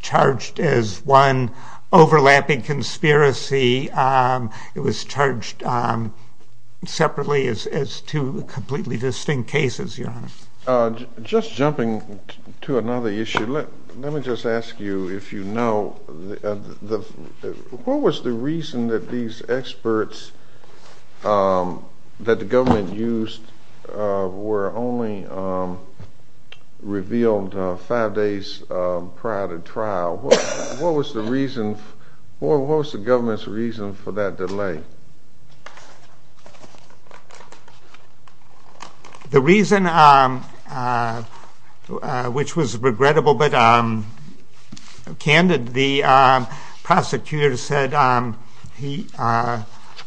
charged as one overlapping conspiracy. It was charged separately as two completely distinct cases, Your Honor. Just jumping to another issue, let me just ask you if you know... What was the reason that these experts that the government used were only revealed five days prior to trial? What was the government's reason for that delay? The reason which was regrettable but candid, the prosecutor said he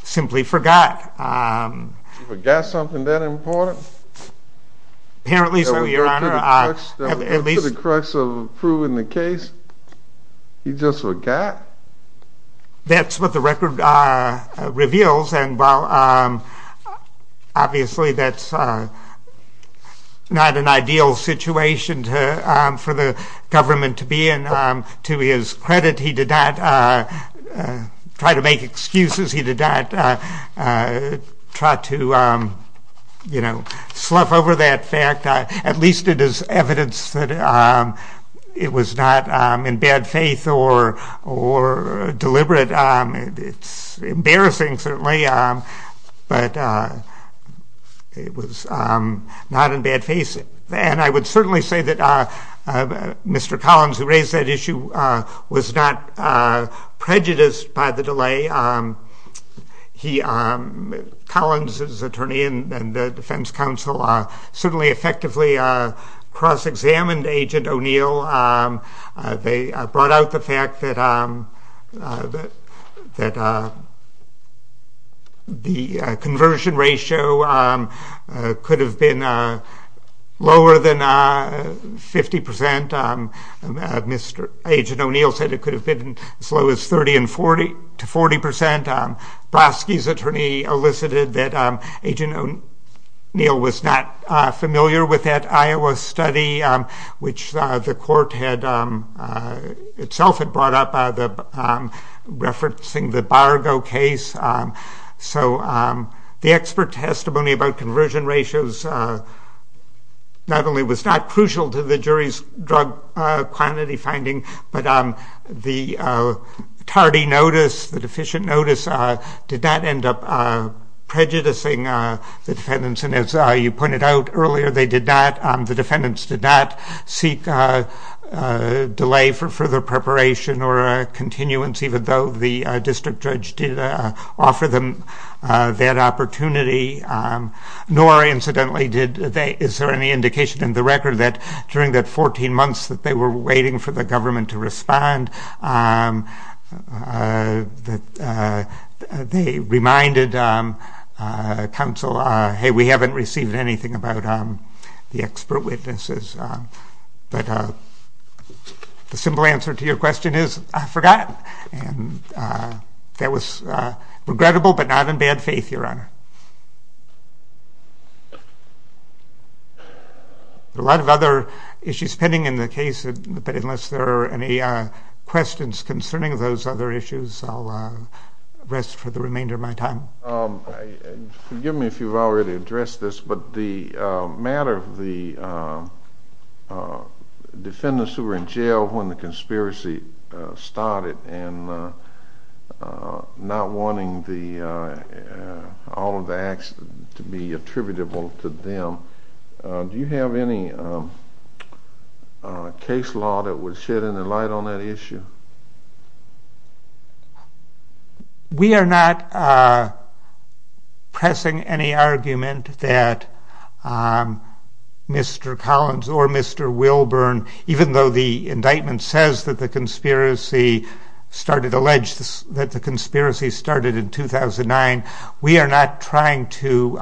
simply forgot. He forgot something that important? Apparently so, Your Honor. To the crux of proving the case, he just forgot? That's what the record reveals and while obviously that's not an ideal situation for the government to be in. To his credit, he did not try to make excuses. He did not try to slough over that fact. At least it is evidence that it was not in bad faith or deliberate. It's embarrassing, certainly, but it was not in bad faith. I would certainly say that Mr. Collins, who raised that issue, was not prejudiced by the delay. Collins, as attorney and defense counsel, certainly effectively cross-examined Agent O'Neill. They brought out the fact that the conversion ratio could have been lower than 50%. Agent O'Neill said it could have been as low as 30% to 40%. Broski's attorney elicited that Agent O'Neill was not familiar with that Iowa study, which the court itself had brought up referencing the Bargo case. The expert testimony about conversion ratios not only was not crucial to the jury's drug quantity finding, but the tardy notice, the deficient notice, did not end up prejudicing the defendants. As you pointed out earlier, the defendants did not seek delay for further preparation or continuance, even though the district judge did offer them that opportunity. Nor, incidentally, is there any indication in the record that during the 14 months they were waiting for the government to respond, they reminded counsel, hey, we haven't received anything about the expert witnesses. The simple answer to your question is, I forgot. That was regrettable, but not in bad faith, Your Honor. There are a lot of other issues pending in the case, but unless there are any questions concerning those other issues, I'll rest for the remainder of my time. Forgive me if you've already addressed this, but the matter of the defendants who were in jail when the conspiracy started, and not wanting all of the acts to be attributable to them, do you have any case law that would shed any light on that issue? We are not pressing any argument that Mr. Collins or Mr. Wilburn, even though the indictment says that the conspiracy started, alleged that the conspiracy started in 2009, we are not trying to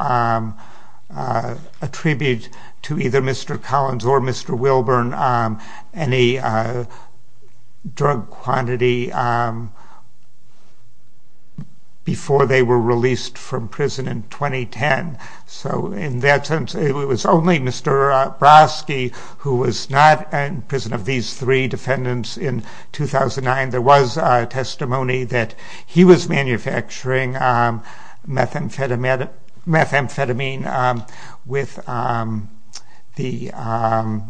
attribute to either Mr. Collins or Mr. Wilburn any drug quantity before they were released from prison in 2010. In that sense, it was only Mr. Brodsky who was not in prison of these three defendants in 2009. There was testimony that he was manufacturing methamphetamine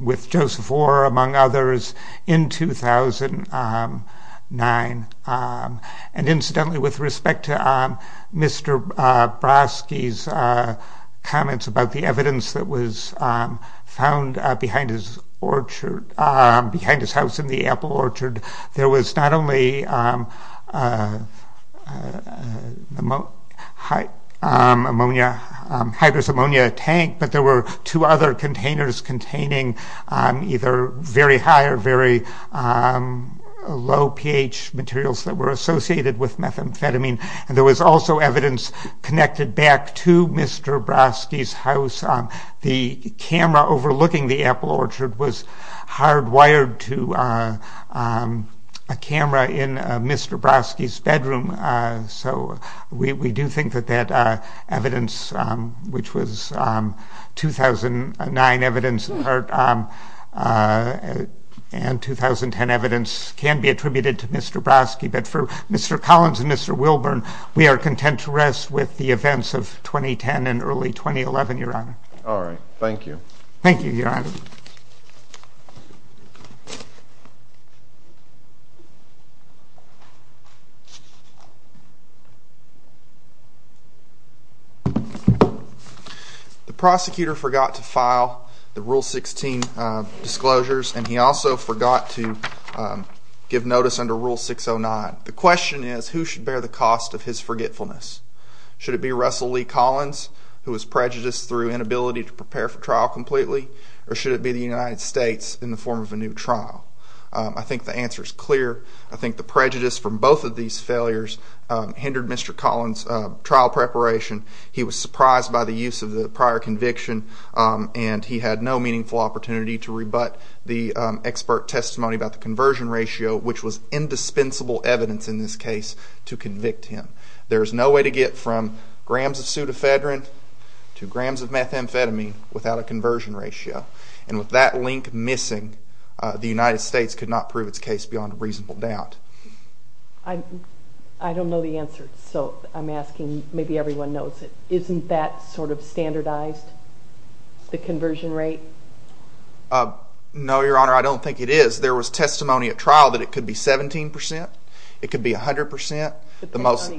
with Joseph Orr, among others, in 2009. Incidentally, with respect to Mr. Brodsky's comments about the evidence that was found behind his orchard, behind his house in the Apple Orchard, there was not only a hydrous ammonia tank, but there were two other containers containing either very high or very low pH materials that were associated with methamphetamine, and there was also evidence connected back to Mr. Brodsky's house. The camera overlooking the Apple Orchard was hardwired to a camera in Mr. Brodsky's bedroom. We do think that evidence, which was 2009 evidence, and 2010 evidence, can be attributed to Mr. Brodsky, but for Mr. Collins and Mr. Wilburn, we are content to rest with the events of 2010 and early 2011, Your Honor. All right. Thank you. Thank you, Your Honor. The prosecutor forgot to file the Rule 16 disclosures, and he also forgot to give notice under Rule 609. The question is, who should bear the cost of his forgetfulness? who was prejudiced through inability to prepare for trial completely, or should it be the United States in the form of a new trial? I think the answer is clear. I think the prejudice from both of these failures hindered Mr. Collins' trial preparation. He was surprised by the use of the prior conviction, and he had no meaningful opportunity to rebut the expert testimony about the conversion ratio, which was indispensable evidence in this case to convict him. There is no way to get from grams of Sudafedrin to grams of methamphetamine without a conversion ratio, and with that link missing, the United States could not prove its case beyond reasonable doubt. I don't know the answer, so I'm asking maybe everyone knows it. Isn't that sort of standardized, the conversion rate? No, Your Honor, I don't think it is. There was testimony at trial that it could be 17%, it could be 100%. Depending on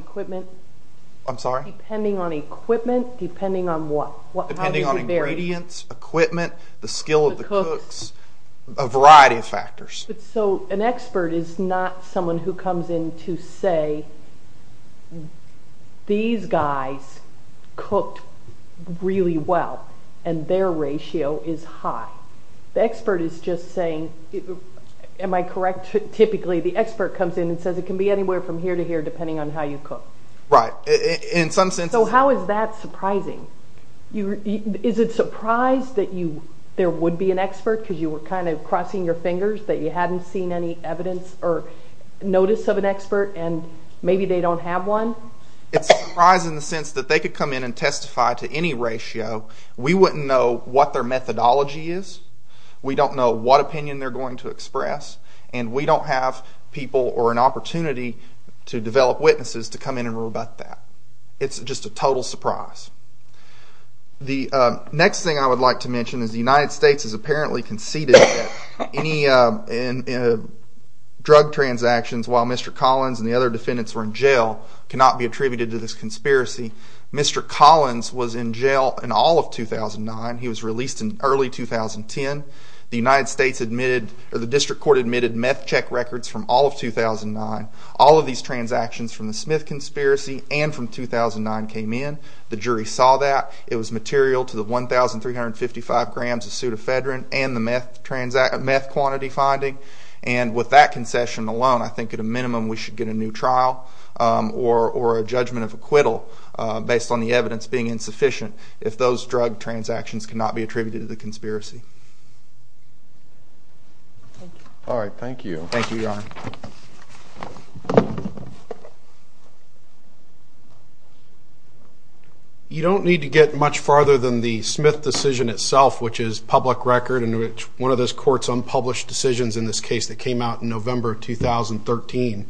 equipment? Depending on what? Depending on ingredients, equipment, the skill of the cooks, a variety of factors. An expert is not someone who comes in to say these guys cooked really well, and their ratio is high. The expert is just saying, am I correct, typically the expert comes in and says it can be anywhere from here to here depending on how you cook. Right. How is that surprising? Is it surprising that there would be an expert, because you were crossing your fingers that you hadn't seen any evidence or notice of an expert, and maybe they don't have one? It's surprising in the sense that they could come in and testify to any ratio. We wouldn't know what their methodology is. We don't know what opinion they're going to express, and we don't have people or an opportunity to develop witnesses to come in and rebut that. It's just a total surprise. The next thing I would like to mention is the United States has apparently conceded that any drug transactions while Mr. Collins and the other defendants were in jail cannot be attributed to this conspiracy. Mr. Collins was in jail in all of 2009. He was released in early 2010. The United States admitted, or the district court admitted meth check records from all of 2009. All of these transactions from the Smith conspiracy and from 2009 came in. The jury saw that. It was material to the 1,355 grams of pseudofedrin and the meth quantity finding, and with that concession alone, I think at a minimum we should get a new trial or a judgment of acquittal based on the evidence being insufficient if those drug transactions cannot be attributed to the conspiracy. All right. Thank you. Thank you, Your Honor. You don't need to get much farther than the Smith decision itself, which is public record and which one of those courts unpublished decisions in this case that came out in November 2013.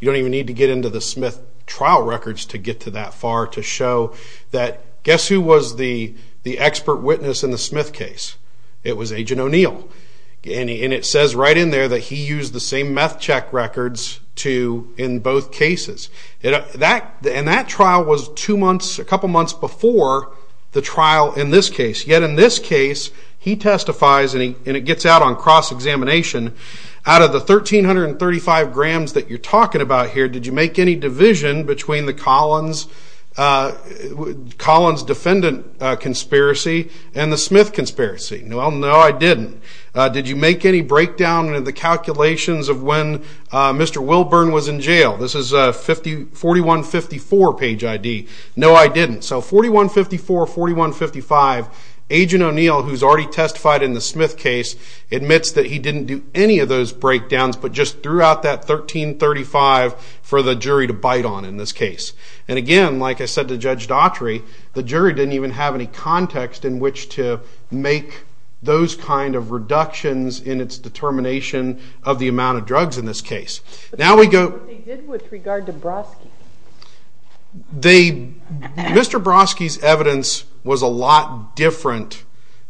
You don't even need to get into the Smith trial records to get to that far to show that, guess who was the expert witness in the Smith case? It was Agent O'Neill. And it says right in there that he used the same meth check records in both cases. And that trial was a couple months before the trial in this case. Yet in this case, he testifies and it gets out on cross-examination out of the 1,335 grams that you're talking about here, did you make any division between the Collins defendant conspiracy and the Smith conspiracy? No, I didn't. Did you make any breakdown in the calculations of when Mr. Wilburn was in jail? This is 4154 page ID. No, I didn't. So 4154, 4155, Agent O'Neill who's already testified in the Smith case admits that he didn't do any of those breakdowns, but just threw out that 1,335 for the jury to bite on in this case. And again, like I said to Judge Daughtry, the jury didn't even have any context in which to make those kind of reductions in its determination of the amount of drugs in this case. What they did with regard to Broski? Mr. Broski's evidence was a lot different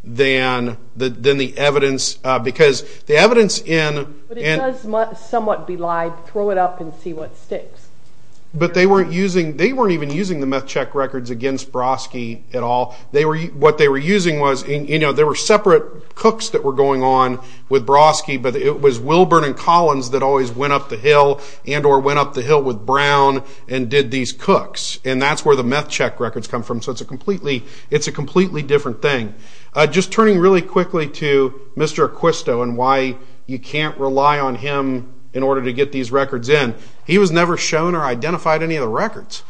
than the evidence, because the evidence in... But it does somewhat belied, throw it up and see what sticks. But they weren't using, the meth check records against Broski at all. What they were using was, you know, there were separate cooks that were going on with Broski, but it was Wilburn and Collins that always went up the hill and or went up the hill with Brown and did these cooks. And that's where the meth check records come from. So it's a completely different thing. Just turning really quickly to Mr. Acquisto and why you can't rely on him in order to get these records in. He was never shown or identified any of the records.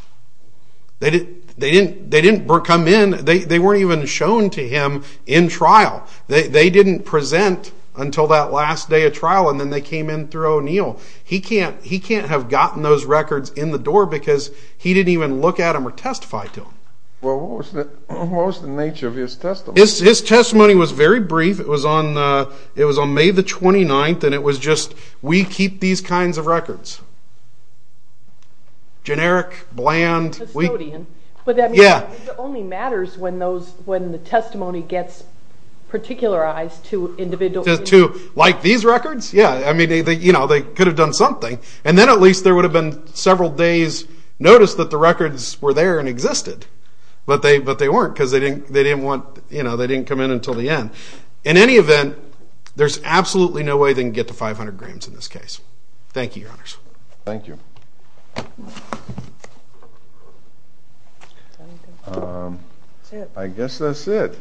They didn't come in. They weren't even shown to him in trial. They didn't present until that last day of trial and then they came in through O'Neill. He can't have gotten those records in the door because he didn't even look at them or testify to them. Well, what was the nature of his testimony? His testimony was very brief. It was on May the 29th and it was just we keep these kinds of records. Generic, bland. It only matters when the testimony gets particularized to individuals. Like these records? Yeah, I mean they could have done something. And then at least there would have been several days notice that the records were there and existed. But they weren't because they didn't come in until the end. absolutely no way they can get to 500 grams in this case. Thank you, Your Honors. Thank you. I guess that's it.